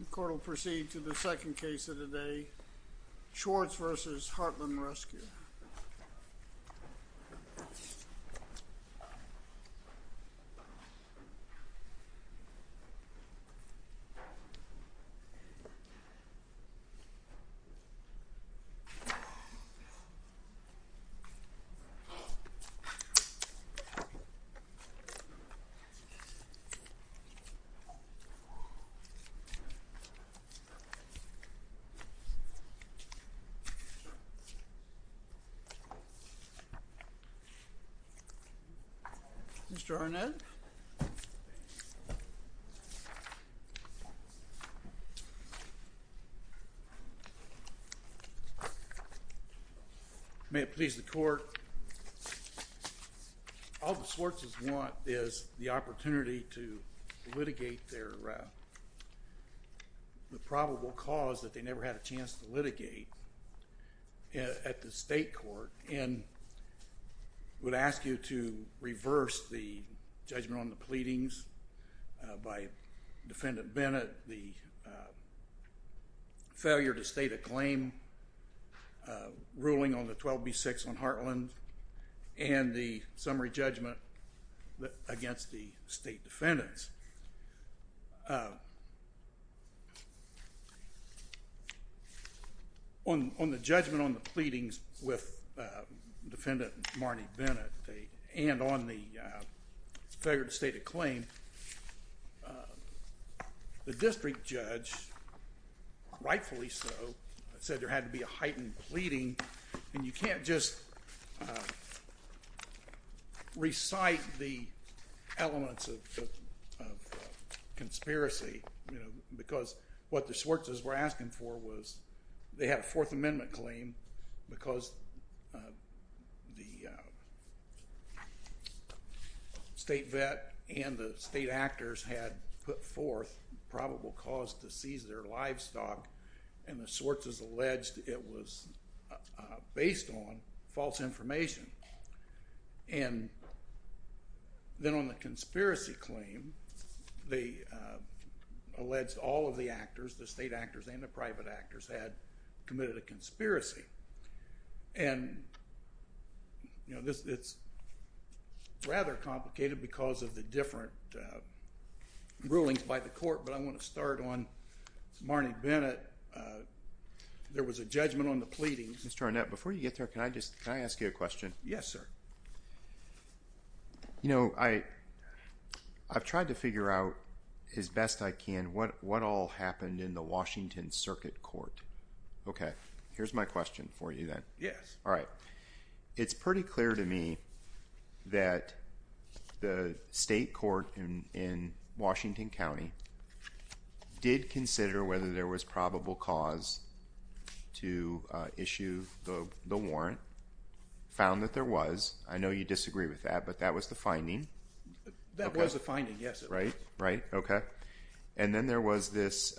The court will proceed to the second case of the day, Swartz v. Heartland Rescue. Mr. Arnett, may it please the court, all the Swartz's want is the opportunity to litigate their probable cause that they never had a chance to litigate at the state court and would ask you to reverse the judgment on the pleadings by defendant Bennett, the failure to state a claim ruling on the 12b6 on Heartland and the on the judgment on the pleadings with defendant Marnie Bennett and on the failure to state a claim, the district judge rightfully so said there had to be heightened pleading and you can't just recite the elements of conspiracy, you know, because what the Swartz's were asking for was they had a Fourth Amendment claim because the state vet and the state actors had put forth probable cause to seize their livestock and the Swartz's alleged it was based on false information and then on the conspiracy claim they alleged all of the actors, the state actors and the private actors, had committed a conspiracy and you know this it's rather complicated because of the different rulings by the court but I want to start on Marnie Bennett, there was a judgment on the pleadings. Mr. Arnett before you get there can I just ask you a question? Yes sir. You know I I've tried to figure out as best I can what what all happened in the Washington Circuit Court. Okay here's my question for you then. Yes. All right it's pretty clear to me that the state court in Washington County did consider whether there was probable cause to issue the the warrant, found that there was, I know you disagree with that but that was the finding. That was the finding yes. Right right okay and then there was this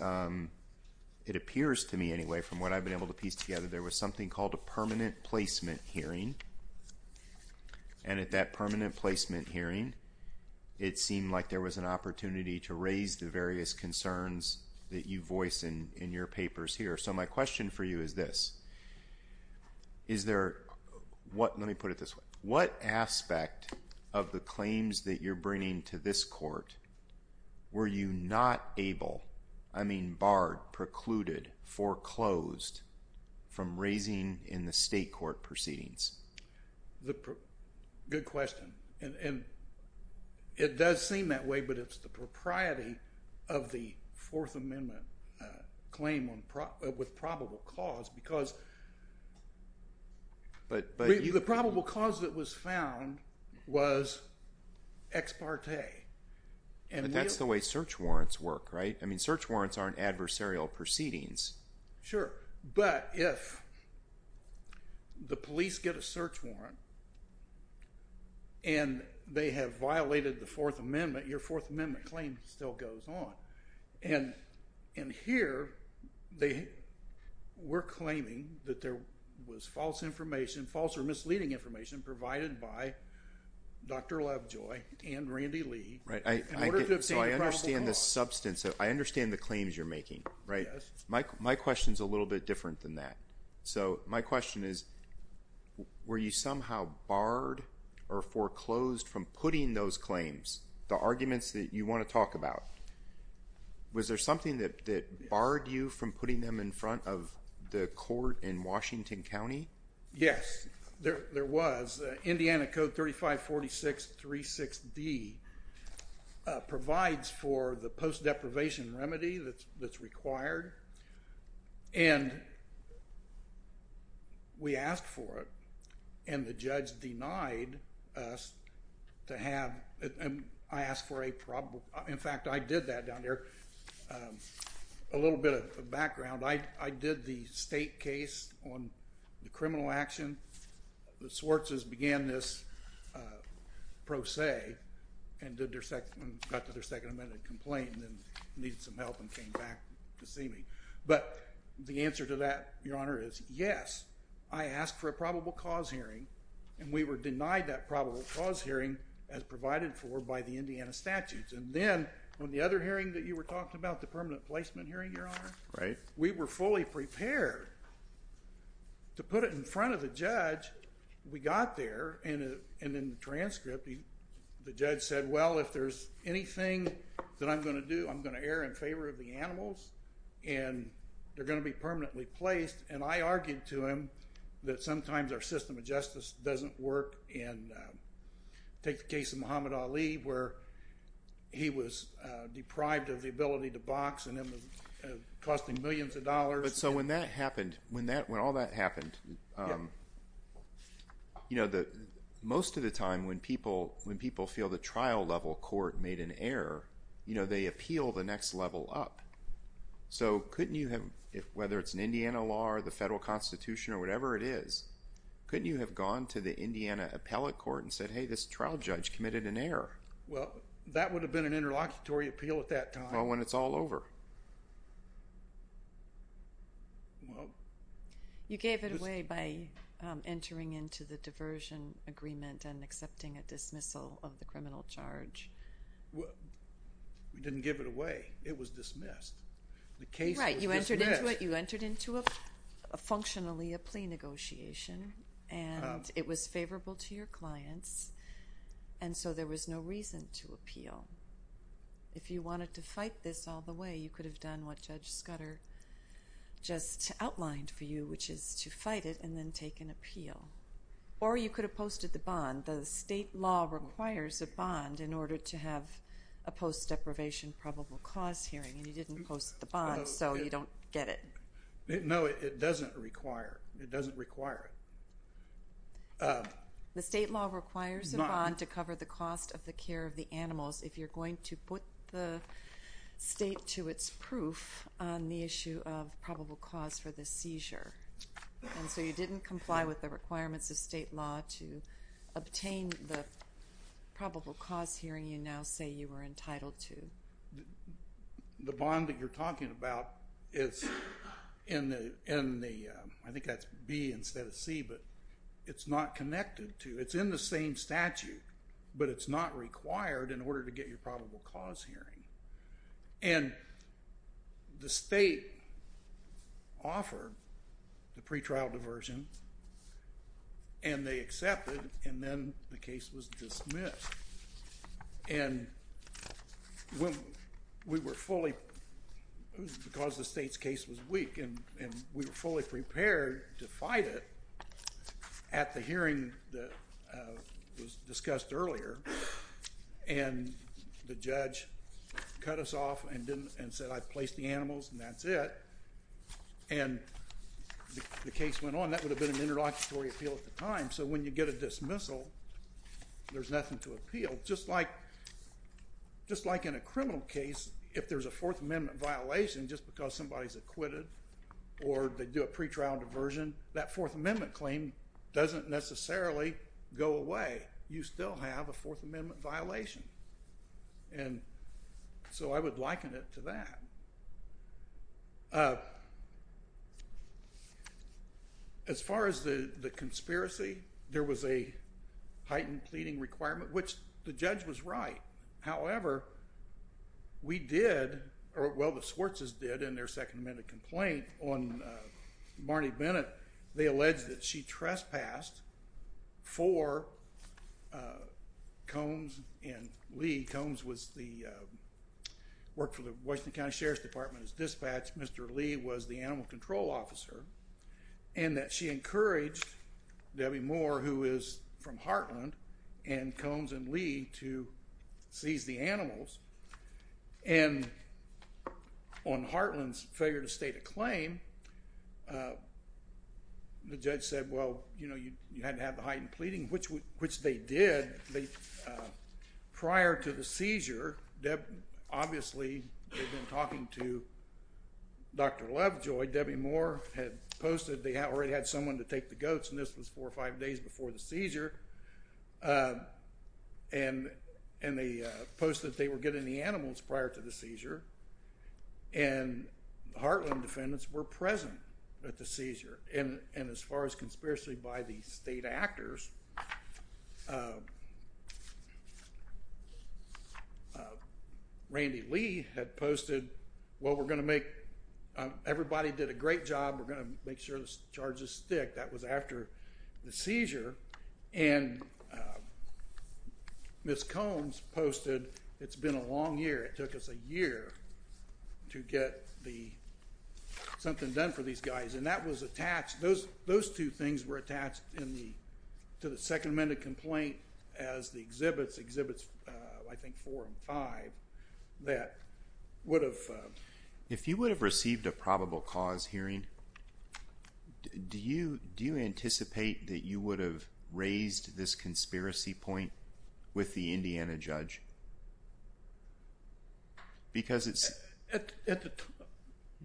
it appears to me anyway from what I've been able to piece together there was something called a permanent placement hearing and at that permanent placement hearing it seemed like there was an opportunity to raise the various concerns that you voice in in your papers here. So my question for you is this, is there what let me put it this way, what aspect of the claims that you're bringing to this court were you not able, I mean barred, precluded, foreclosed from raising in the state court proceedings? Good question and it does seem that way but it's the propriety of the Fourth Amendment claim on with probable cause because but but the probable cause that was found was ex parte. And that's the way search warrants work right? I mean search warrants aren't adversarial proceedings. Sure but if the police get a search warrant and they have violated the Fourth Amendment your Fourth Amendment claim still goes on and and here they were claiming that there was false information false or misleading information provided by Dr. Lovejoy and Randy Lee. Right I understand the substance of, I understand the claims you're making right? My question is a little bit different than that. So my question is were you somehow barred or foreclosed from putting those claims, the arguments that you want to talk about? Was there something that barred you from putting them in front of the court in Washington County? Yes there was. Indiana Code 3546.36d provides for the post-deprivation remedy that's that's required and we asked for it and the judge denied us to have it and I asked for a probable, in fact I did that down there, a little bit of background. I did the state case on the criminal action the Swartz's began this pro se and did their second, got to their Second Amendment complaint and needed some help and came back to see me but the answer to that your honor is yes I asked for a probable cause hearing and we were denied that probable cause hearing as provided for by the Indiana statutes and then when the other hearing that you were talking about the permanent placement hearing your honor. Right. We were fully prepared to put it in front of the judge we got there and and in the transcript the judge said well if there's anything that I'm going to do I'm going to err in favor of the animals and they're going to be permanently placed and I argued to him that sometimes our system of justice doesn't work and take the case of Muhammad Ali where he was deprived of the ability to box and it was costing millions of dollars. But so when that happened when that when all that happened you know that most of the time when people when people feel the trial level court made an error you know they appeal the next level up so couldn't you have if whether it's an Indiana law or the federal constitution or whatever it is couldn't you have gone to the Indiana appellate court and said hey this trial judge committed an error. Well that would have been an interlocutory appeal at that time. Well when it's all over. You gave it away by entering into the diversion agreement and accepting a criminal charge. We didn't give it away it was dismissed. The case. Right you entered into it you entered into a functionally a plea negotiation and it was favorable to your clients and so there was no reason to appeal. If you wanted to fight this all the way you could have done what Judge Scudder just outlined for you which is to fight it and then take an appeal. Or you could have posted the bond. The state law requires a bond in order to have a post deprivation probable cause hearing and you didn't post the bond so you don't get it. No it doesn't require it doesn't require it. The state law requires a bond to cover the cost of the care of the animals if you're going to put the state to its proof on the issue of probable cause for the seizure and so you didn't comply with the requirements of state law to obtain the probable cause hearing you now say you were entitled to. The bond that you're talking about is in the in the I think that's B instead of C but it's not connected to it's in the same statute but it's not required in order to get your probable cause hearing and the state offered the pretrial diversion and they accepted and then the case was dismissed and when we were fully because the state's case was weak and and we were fully prepared to fight it at the hearing that was discussed earlier and the judge cut us off and didn't and said I placed the animals and that's it and the case went on that would have been an interlocutory appeal at the time so when you get a dismissal there's nothing to appeal just like just like in a criminal case if there's a Fourth Amendment violation just because somebody's acquitted or they do a pretrial diversion that Fourth Amendment claim doesn't necessarily go away you still have a Fourth Amendment violation and so I would liken it to that. As far as the the conspiracy there was a heightened pleading requirement which the judge was right however we did or well the Swartz's did in their Second Amendment complaint on Marnie Bennett they alleged that she trespassed for Combs and Lee Combs was the worked for the Washington County Sheriff's Department as dispatch Mr. Lee was the animal control officer and that she encouraged Debbie Moore who is from Heartland and Combs and Lee to seize the animals and on Heartland's failure to make a claim the judge said well you know you had to have the heightened pleading which which they did prior to the seizure that obviously they've been talking to Dr. Lovejoy Debbie Moore had posted they already had someone to take the goats and this was four or five days before the seizure and and they posted they were getting the animals prior to the defendants were present at the seizure and and as far as conspiracy by the state actors Randy Lee had posted well we're going to make everybody did a great job we're going to make sure this charges stick that was after the seizure and miss Combs posted it's been a long year it took us a year to get the something done for these guys and that was attached those those two things were attached in the to the Second Amendment complaint as the exhibits exhibits I think four and five that would have if you would have received a probable cause hearing do you do you anticipate that you would have raised this conspiracy point with the Indiana judge because it's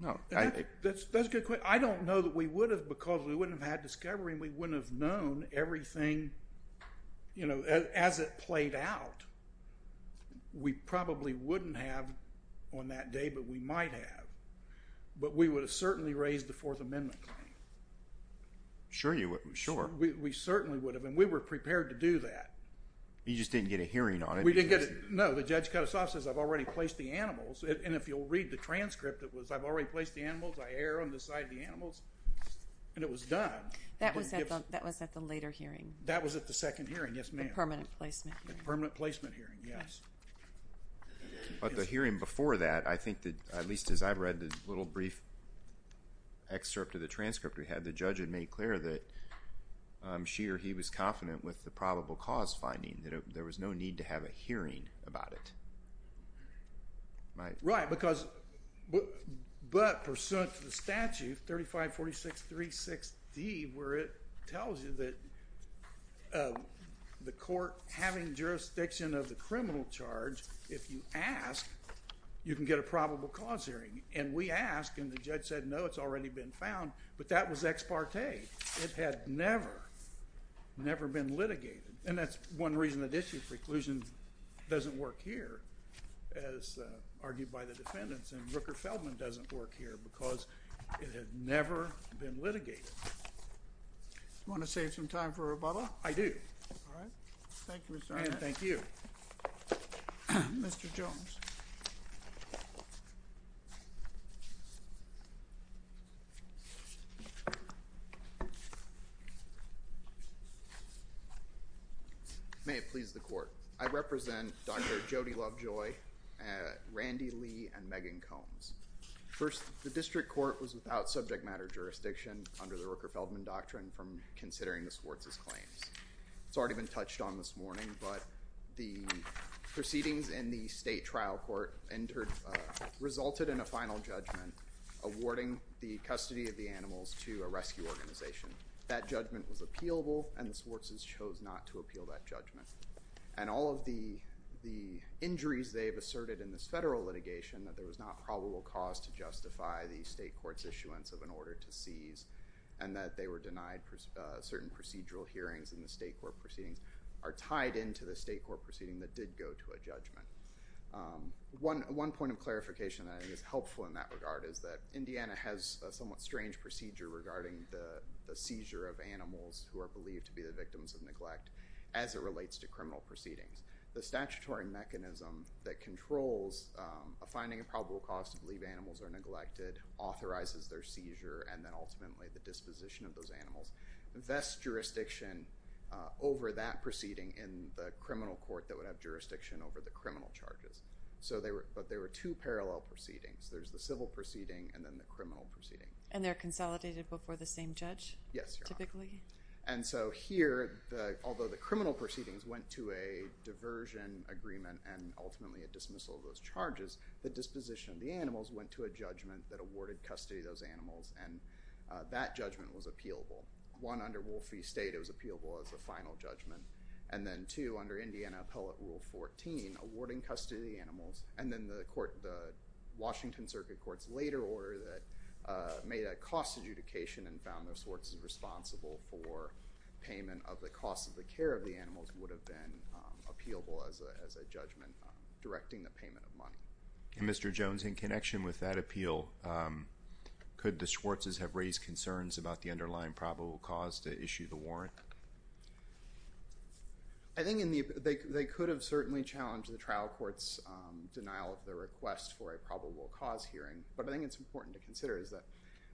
no I don't know that we would have because we wouldn't have had discovery we wouldn't have known everything you know as it played out we probably wouldn't have on that day but we might have but we would have certainly raised the Fourth Amendment sure you sure we certainly would have and we were prepared to do that you just didn't get a hearing on it we didn't get it no the judge cut us off says I've already placed the animals and if you'll read the transcript it was I've already placed the animals I err on the side of the animals and it was done that was at that was at the later hearing that was at the second hearing yes ma'am permanent placement permanent placement hearing yes but the hearing before that I think that at least as I've read the little brief excerpt of the transcript we had the judge had made clear that I'm sure he was confident with the probable cause finding that there was no need to have a hearing about it right because but pursuant to the statute 35 46 3 6 D where it tells you that the court having jurisdiction of the criminal charge if you ask you can get a probable cause hearing and we ask and the judge said no it's already been found but that was ex parte it had never never been litigated and that's one reason that issue preclusion doesn't work here as argued by the defendants and Rooker Feldman doesn't work here because it had never been litigated you thank you mr. Jones may it please the court I represent dr. Jody Lovejoy Randy Lee and Megan Combs first the district court was without subject matter jurisdiction under the it's already been touched on this morning but the proceedings in the state trial court entered resulted in a final judgment awarding the custody of the animals to a rescue organization that judgment was appealable and the Swartz's chose not to appeal that judgment and all of the the injuries they've asserted in this federal litigation that there was not probable cause to justify the state courts issuance of an order to seize and that they were denied certain procedural hearings in the state court proceedings are tied into the state court proceeding that did go to a judgment one one point of clarification that is helpful in that regard is that Indiana has a somewhat strange procedure regarding the seizure of animals who are believed to be the victims of neglect as it relates to criminal proceedings the statutory mechanism that controls a finding a probable cause to believe animals are those animals invest jurisdiction over that proceeding in the criminal court that would have jurisdiction over the criminal charges so they were but there were two parallel proceedings there's the civil proceeding and then the criminal proceeding and they're consolidated before the same judge yes typically and so here although the criminal proceedings went to a diversion agreement and ultimately a dismissal of those charges the disposition of the animals went to a judgment that awarded custody of those animals and that judgment was appealable one under Wolfie state it was appealable as a final judgment and then two under Indiana appellate rule 14 awarding custody animals and then the court the Washington Circuit courts later order that made a cost adjudication and found their sorts is responsible for payment of the cost of the care of the animals would have been appealable as a judgment directing the payment of money mr. Jones in connection with that appeal could the concerns about the underlying probable cause to issue the warrant I think in the they could have certainly challenged the trial courts denial of the request for a probable cause hearing but I think it's important to consider is that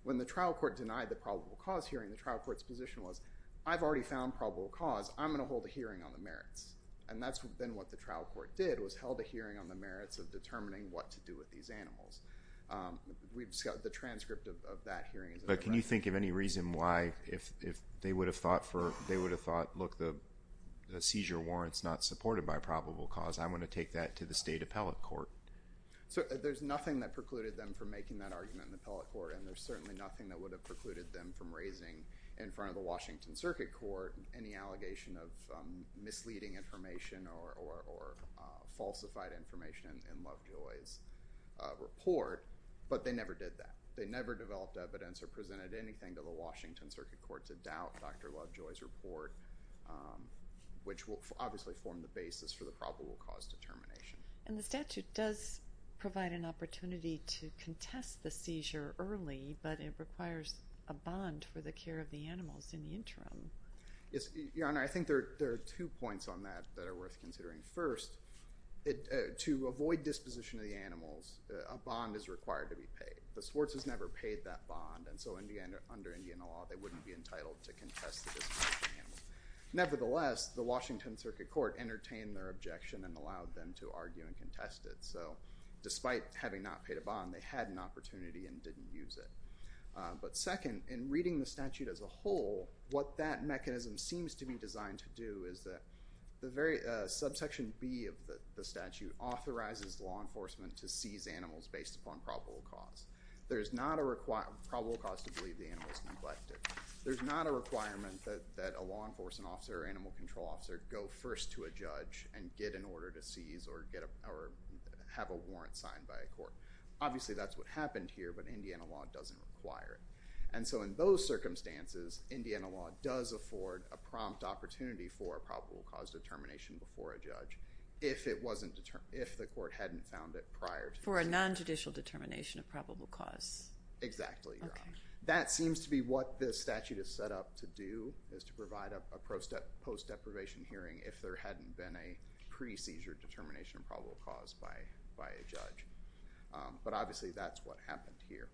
when the trial court denied the probable cause hearing the trial courts position was I've already found probable cause I'm gonna hold a hearing on the merits and that's what then what the trial court did was held a hearing on the merits of determining what to do with these animals we've got the transcript of that hearing but can you think of any reason why if they would have thought for they would have thought look the seizure warrants not supported by probable cause I'm going to take that to the state appellate court so there's nothing that precluded them from making that argument in the appellate court and there's certainly nothing that would have precluded them from raising in front of the Washington Circuit Court any allegation of misleading information or falsified information in Lovejoy's report but they never did that they never developed evidence or presented anything to the Washington Circuit Court to doubt dr. Lovejoy's report which will obviously form the basis for the probable cause determination and the statute does provide an opportunity to contest the seizure early but it requires a bond for the care of the animals in the interim yes your honor I think there are two points on that that are worth considering first it to avoid disposition of the animals a bond is never paid that bond and so in the end under Indian law they wouldn't be entitled to contest nevertheless the Washington Circuit Court entertained their objection and allowed them to argue and contest it so despite having not paid a bond they had an opportunity and didn't use it but second in reading the statute as a whole what that mechanism seems to be designed to do is that the very subsection B of the statute authorizes law enforcement to there's not a requirement that a law enforcement officer animal control officer go first to a judge and get an order to seize or get up our have a warrant signed by a court obviously that's what happened here but Indiana law doesn't require it and so in those circumstances Indiana law does afford a prompt opportunity for probable cause determination before a judge if it determination of probable cause exactly that seems to be what this statute is set up to do is to provide a pro step post deprivation hearing if there hadn't been a pre seizure determination probable cause by by a judge but obviously that's what happened here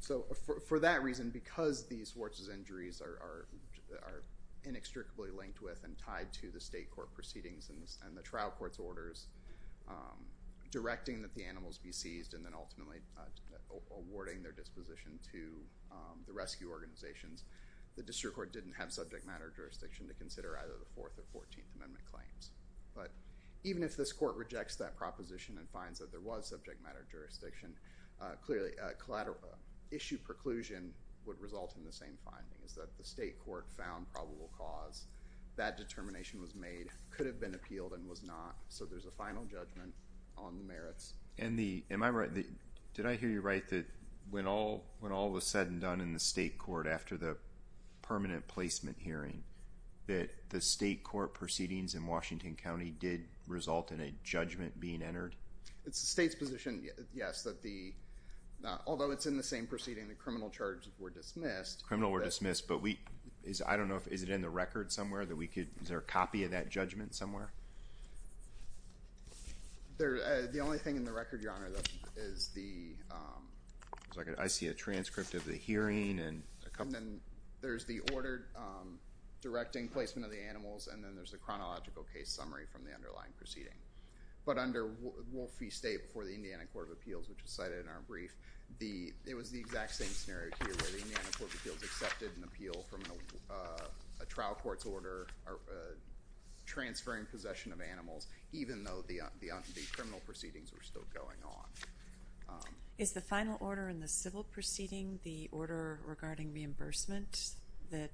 so for that reason because these forces injuries are inextricably linked with and tied to the state court proceedings and the trial courts orders directing that the animals be seized and then ultimately awarding their disposition to the rescue organizations the district court didn't have subject matter jurisdiction to consider either the fourth or fourteenth amendment claims but even if this court rejects that proposition and finds that there was subject matter jurisdiction clearly a collateral issue preclusion would result in the same finding is that the state was made could have been appealed and was not so there's a final judgment on the merits and the am I right did I hear you right that when all when all was said and done in the state court after the permanent placement hearing that the state court proceedings in Washington County did result in a judgment being entered it's the state's position yes that the although it's in the same proceeding the criminal charges were dismissed criminal were dismissed but we is I don't know if is it in the record somewhere that we could is there a copy of that judgment somewhere there the only thing in the record your honor that is the second I see a transcript of the hearing and there's the ordered directing placement of the animals and then there's a chronological case summary from the underlying proceeding but under Wolfie state before the Indiana Court of Appeals which is cited in our brief the it was the exact same accepted an appeal from a trial court's order or transferring possession of animals even though the criminal proceedings were still going on is the final order in the civil proceeding the order regarding reimbursement that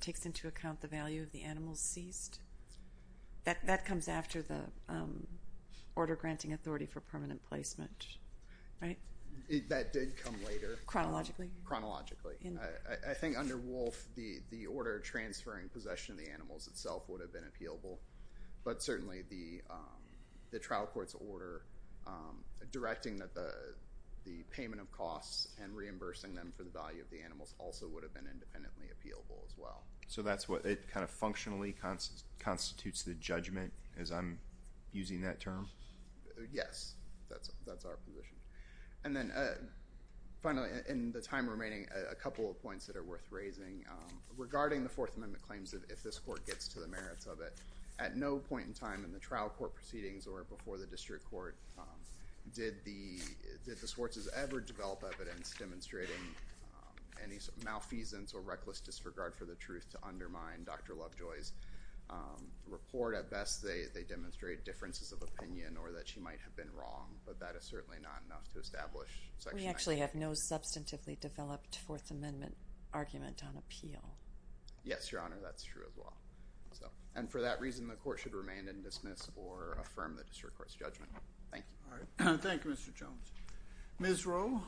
takes into account the value of the animals ceased that comes after the order granting authority for permanent placement chronologically I think under wolf the the order transferring possession of the animals itself would have been appealable but certainly the the trial courts order directing that the the payment of costs and reimbursing them for the value of the animals also would have been independently appealable as well so that's what it kind of yes that's that's our position and then finally in the time remaining a couple of points that are worth raising regarding the Fourth Amendment claims that if this court gets to the merits of it at no point in time in the trial court proceedings or before the district court did the did the Swartz's ever develop evidence demonstrating any malfeasance or reckless disregard for the truth to undermine dr. Lovejoy's report at best they demonstrate differences of opinion or that she might have been wrong but that is certainly not enough to establish so we actually have no substantively developed Fourth Amendment argument on appeal yes your honor that's true as well so and for that reason the court should remain in dismiss or affirm the district court's judgment thank you all right thank you mr. Jones mizro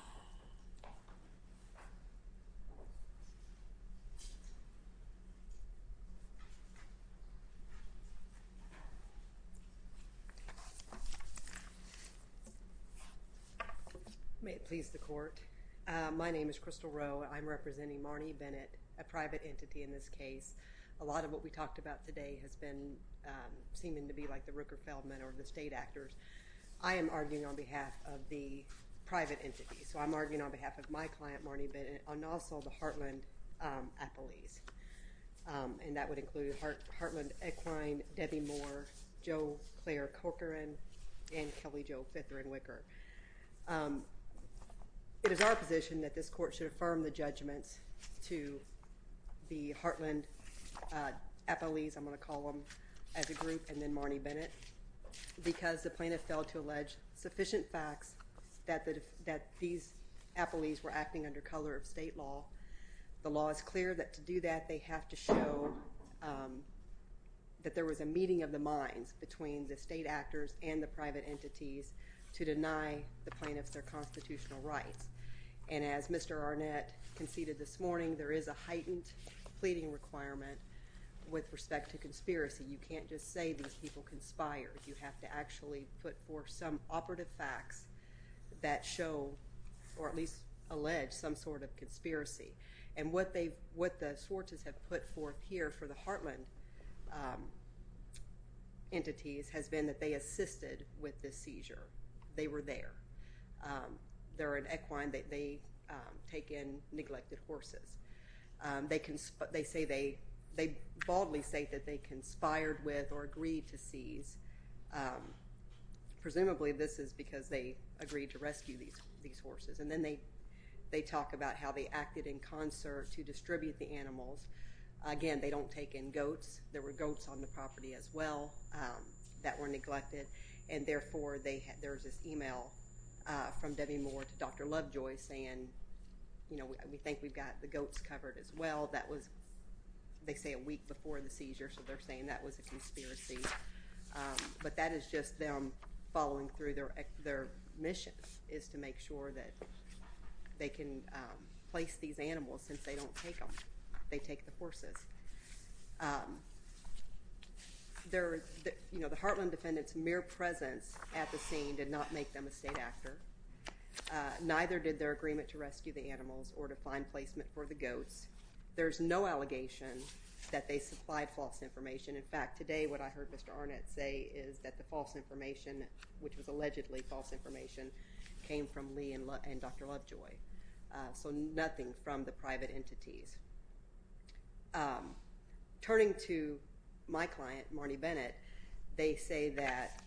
may it please the court my name is crystal row I'm representing Marnie Bennett a private entity in this case a lot of what we talked about today has been seeming to be like the Rooker Feldman or the state actors I am arguing on behalf of the private entity so I'm arguing on behalf of my client Marnie Bennett and also the Heartland a police and that would include heart Heartland equine Debbie Moore Joe Claire Corcoran and Kelly Joe fit there and wicker it is our position that this court should affirm the judgments to the Heartland a police I'm going to call them as a group and then Marnie Bennett because the plaintiff failed to allege sufficient facts that that these a police were acting under color of state law the law is clear that to do that they have to show that there was a meeting of the minds between the state actors and the private entities to deny the plaintiffs their constitutional rights and as mr. Arnett conceded this morning there is a heightened pleading requirement with respect to conspiracy you can't just say these people conspired you have to actually put forth some operative facts that show or at some sort of conspiracy and what they what the Swartz's have put forth here for the Heartland entities has been that they assisted with this seizure they were there there are an equine that they take in neglected horses they can but they say they they baldly state that they conspired with or agreed to seize presumably this is because they agreed to rescue these these horses and then they they talk about how they acted in concert to distribute the animals again they don't take in goats there were goats on the property as well that were neglected and therefore they had there's this email from Debbie Moore to dr. Lovejoy saying you know we think we've got the goats covered as well that was they say a week before the seizure so they're saying that was a conspiracy but that is just them following through their their mission is to make sure that they can place these animals since they don't take them they take the horses there you know the Heartland defendants mere presence at the scene did not make them a state actor neither did their agreement to rescue the animals or to find placement for the goats there's no allegation that they supplied false information in fact today what I heard mr. Arnett say is that the false information which was allegedly false information came from Lee and love and dr. Lovejoy so nothing from the private entities turning to my client Marnie Bennett they say that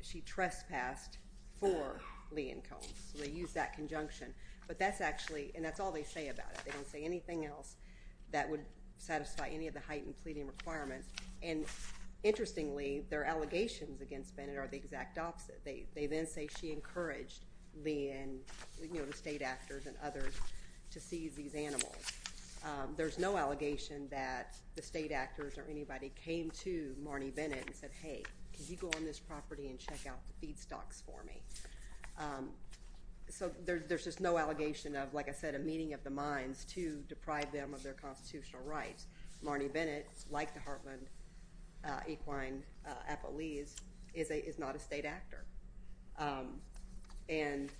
she trespassed for Lee and cones so they use that conjunction but that's actually and that's all they say about it they don't say anything else that would satisfy any of the heightened pleading requirements and interestingly their allegations against Bennett are the exact opposite they they then say she encouraged the and you know the state actors and others to seize these animals there's no allegation that the state actors or anybody came to Marnie Bennett and said hey could you go on this property and check out the feedstocks for me so there's just no allegation of like I said a meeting of the minds to deprive them of their constitutional rights Marnie Bennett like the heartland equine a police is a is not a state actor and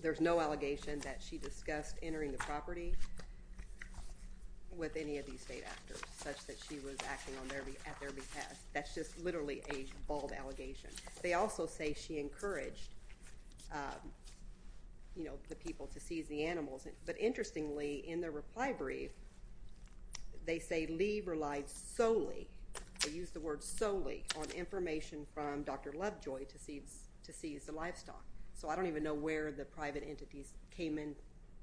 there's no allegation that she discussed entering the property with any of these state actors such that she was acting on their be at their behalf that's just literally a bald allegation they also say she encouraged you know the people to seize the animals but interestingly in the reply brief they say leave relied solely I use the word solely on information from dr. Lovejoy to seeds to seize the livestock so I don't even know where the private entities came in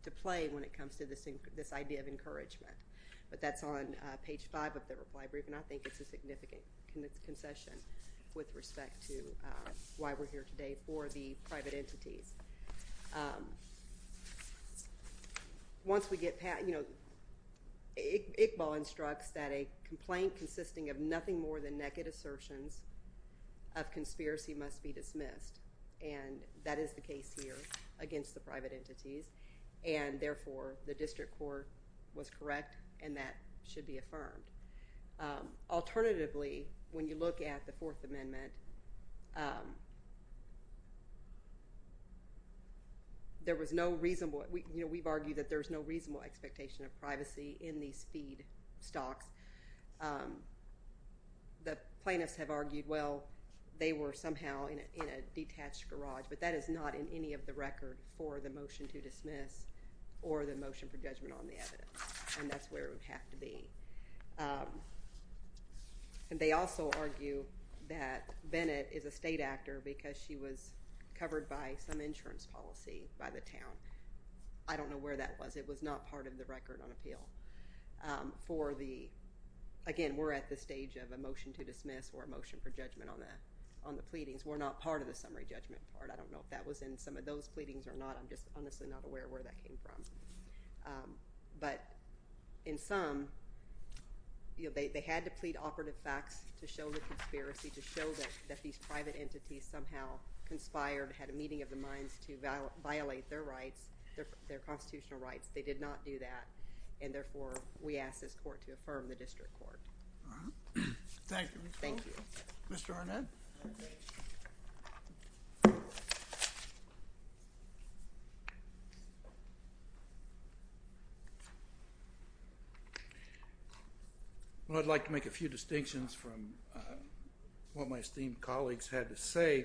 to play when it comes to this in this idea of encouragement but that's on page five of the reply brief and I think it's a significant concession with respect to why we're here today for the private entities once we get Pat you know Iqbal instructs that a complaint consisting of nothing more than naked assertions of conspiracy must be dismissed and that is the case here against the private entities and therefore the district court was correct and that should be affirmed alternatively when you look at the Fourth Amendment there was no reasonable we you know we've argued that there's no reasonable expectation of privacy in these feed stocks the plaintiffs have argued well they were somehow in a detached garage but that is not in any of the record for the motion to dismiss or the motion for judgment on the evidence and that's Bennett is a state actor because she was covered by some insurance policy by the town I don't know where that was it was not part of the record on appeal for the again we're at the stage of a motion to dismiss or a motion for judgment on that on the pleadings we're not part of the summary judgment part I don't know if that was in some of those pleadings or not I'm just honestly not aware where that came from but in some you know they had to plead operative facts to show the these private entities somehow conspired had a meeting of the minds to violate their rights their constitutional rights they did not do that and therefore we ask this court to affirm the district court thank you mr. Arnett I'd like to make a few distinctions from what my esteemed colleagues had to say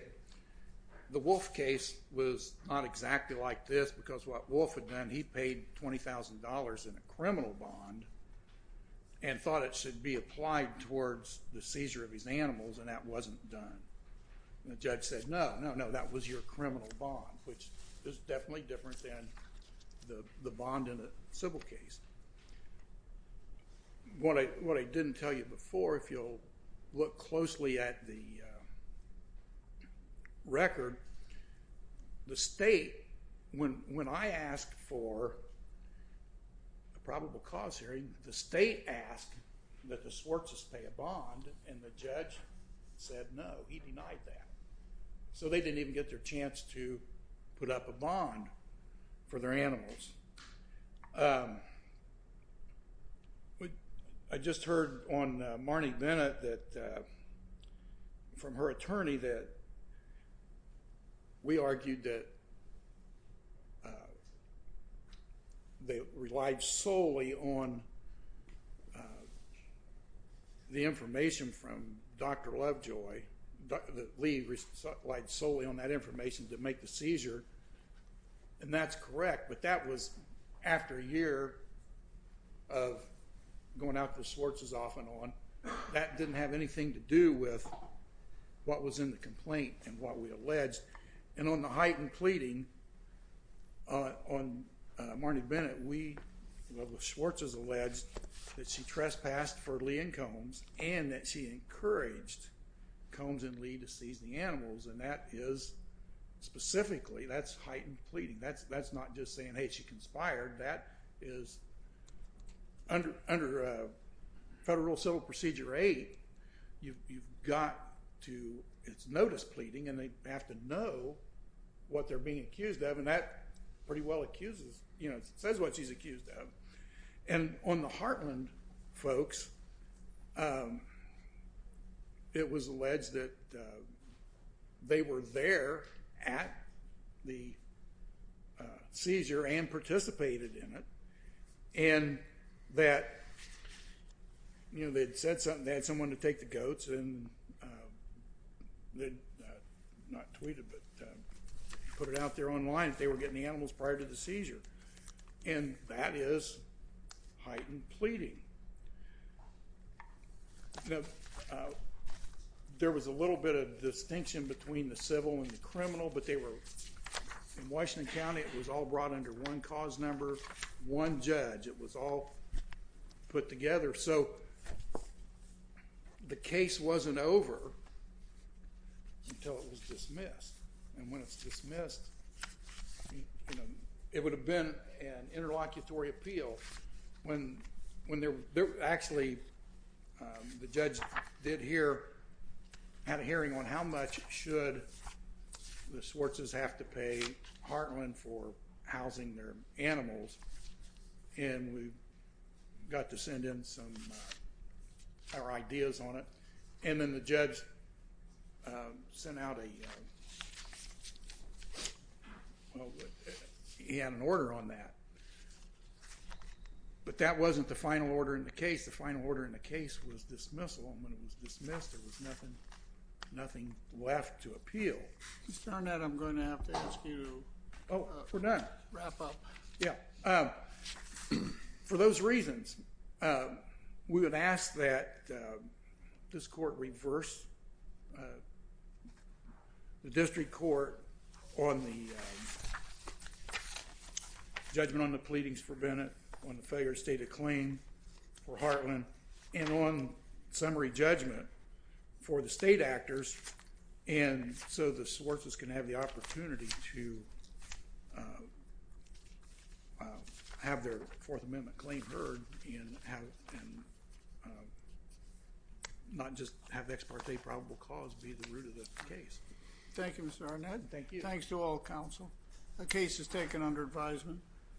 the wolf case was not exactly like this because what wolf had done he paid $20,000 in a criminal bond and thought it should be applied towards the seizure of his animals and that wasn't done the judge said no no no that was your criminal bond which is definitely different than the bond in a civil case what I what I didn't tell you before if you'll look closely at the record the state when when I asked for a probable cause hearing the state asked that the judge said no he denied that so they didn't even get their chance to put up a bond for their animals but I just heard on Marnie Bennett that from her attorney that we argued that they relied solely on the information from dr. Lovejoy that we relied solely on that information to make the seizure and that's correct but that was after a year of going out the Swartz's off and on that didn't have anything to do with what was in the complaint and what we alleged and on the heightened pleading on Marnie Bennett we love with Schwartz's alleged that she trespassed for Lee and Combs and that she encouraged Combs and Lee to seize the animals and that is specifically that's heightened pleading that's that's not just saying hey she conspired that is under under federal civil procedure a you've got to its notice pleading and they have to know what they're being accused of and that pretty well accuses you know it says what she's accused of and on the heartland folks it was alleged that they were there at the you know they'd said something they had someone to take the goats and not tweeted but put it out there online if they were getting the animals prior to the seizure and that is heightened pleading there was a little bit of distinction between the civil and the criminal but they were in Washington County it was all brought under one cause number one judge it was all put together so the case wasn't over until it was dismissed and when it's dismissed it would have been an interlocutory appeal when when they're actually the judge did hear had a hearing on how much should the and we got to send in some our ideas on it and then the judge sent out a he had an order on that but that wasn't the final order in the case the final order in the case was dismissal when it was dismissed there was nothing nothing left to appeal for those reasons we would ask that this court reverse the district court on the judgment on the pleadings for Bennett on the failure state of so the sources can have the opportunity to have their fourth amendment claim heard and not just have ex parte probable cause be the root of this case thank you mr. Arnett thank you thanks to all counsel the case is taken under advisement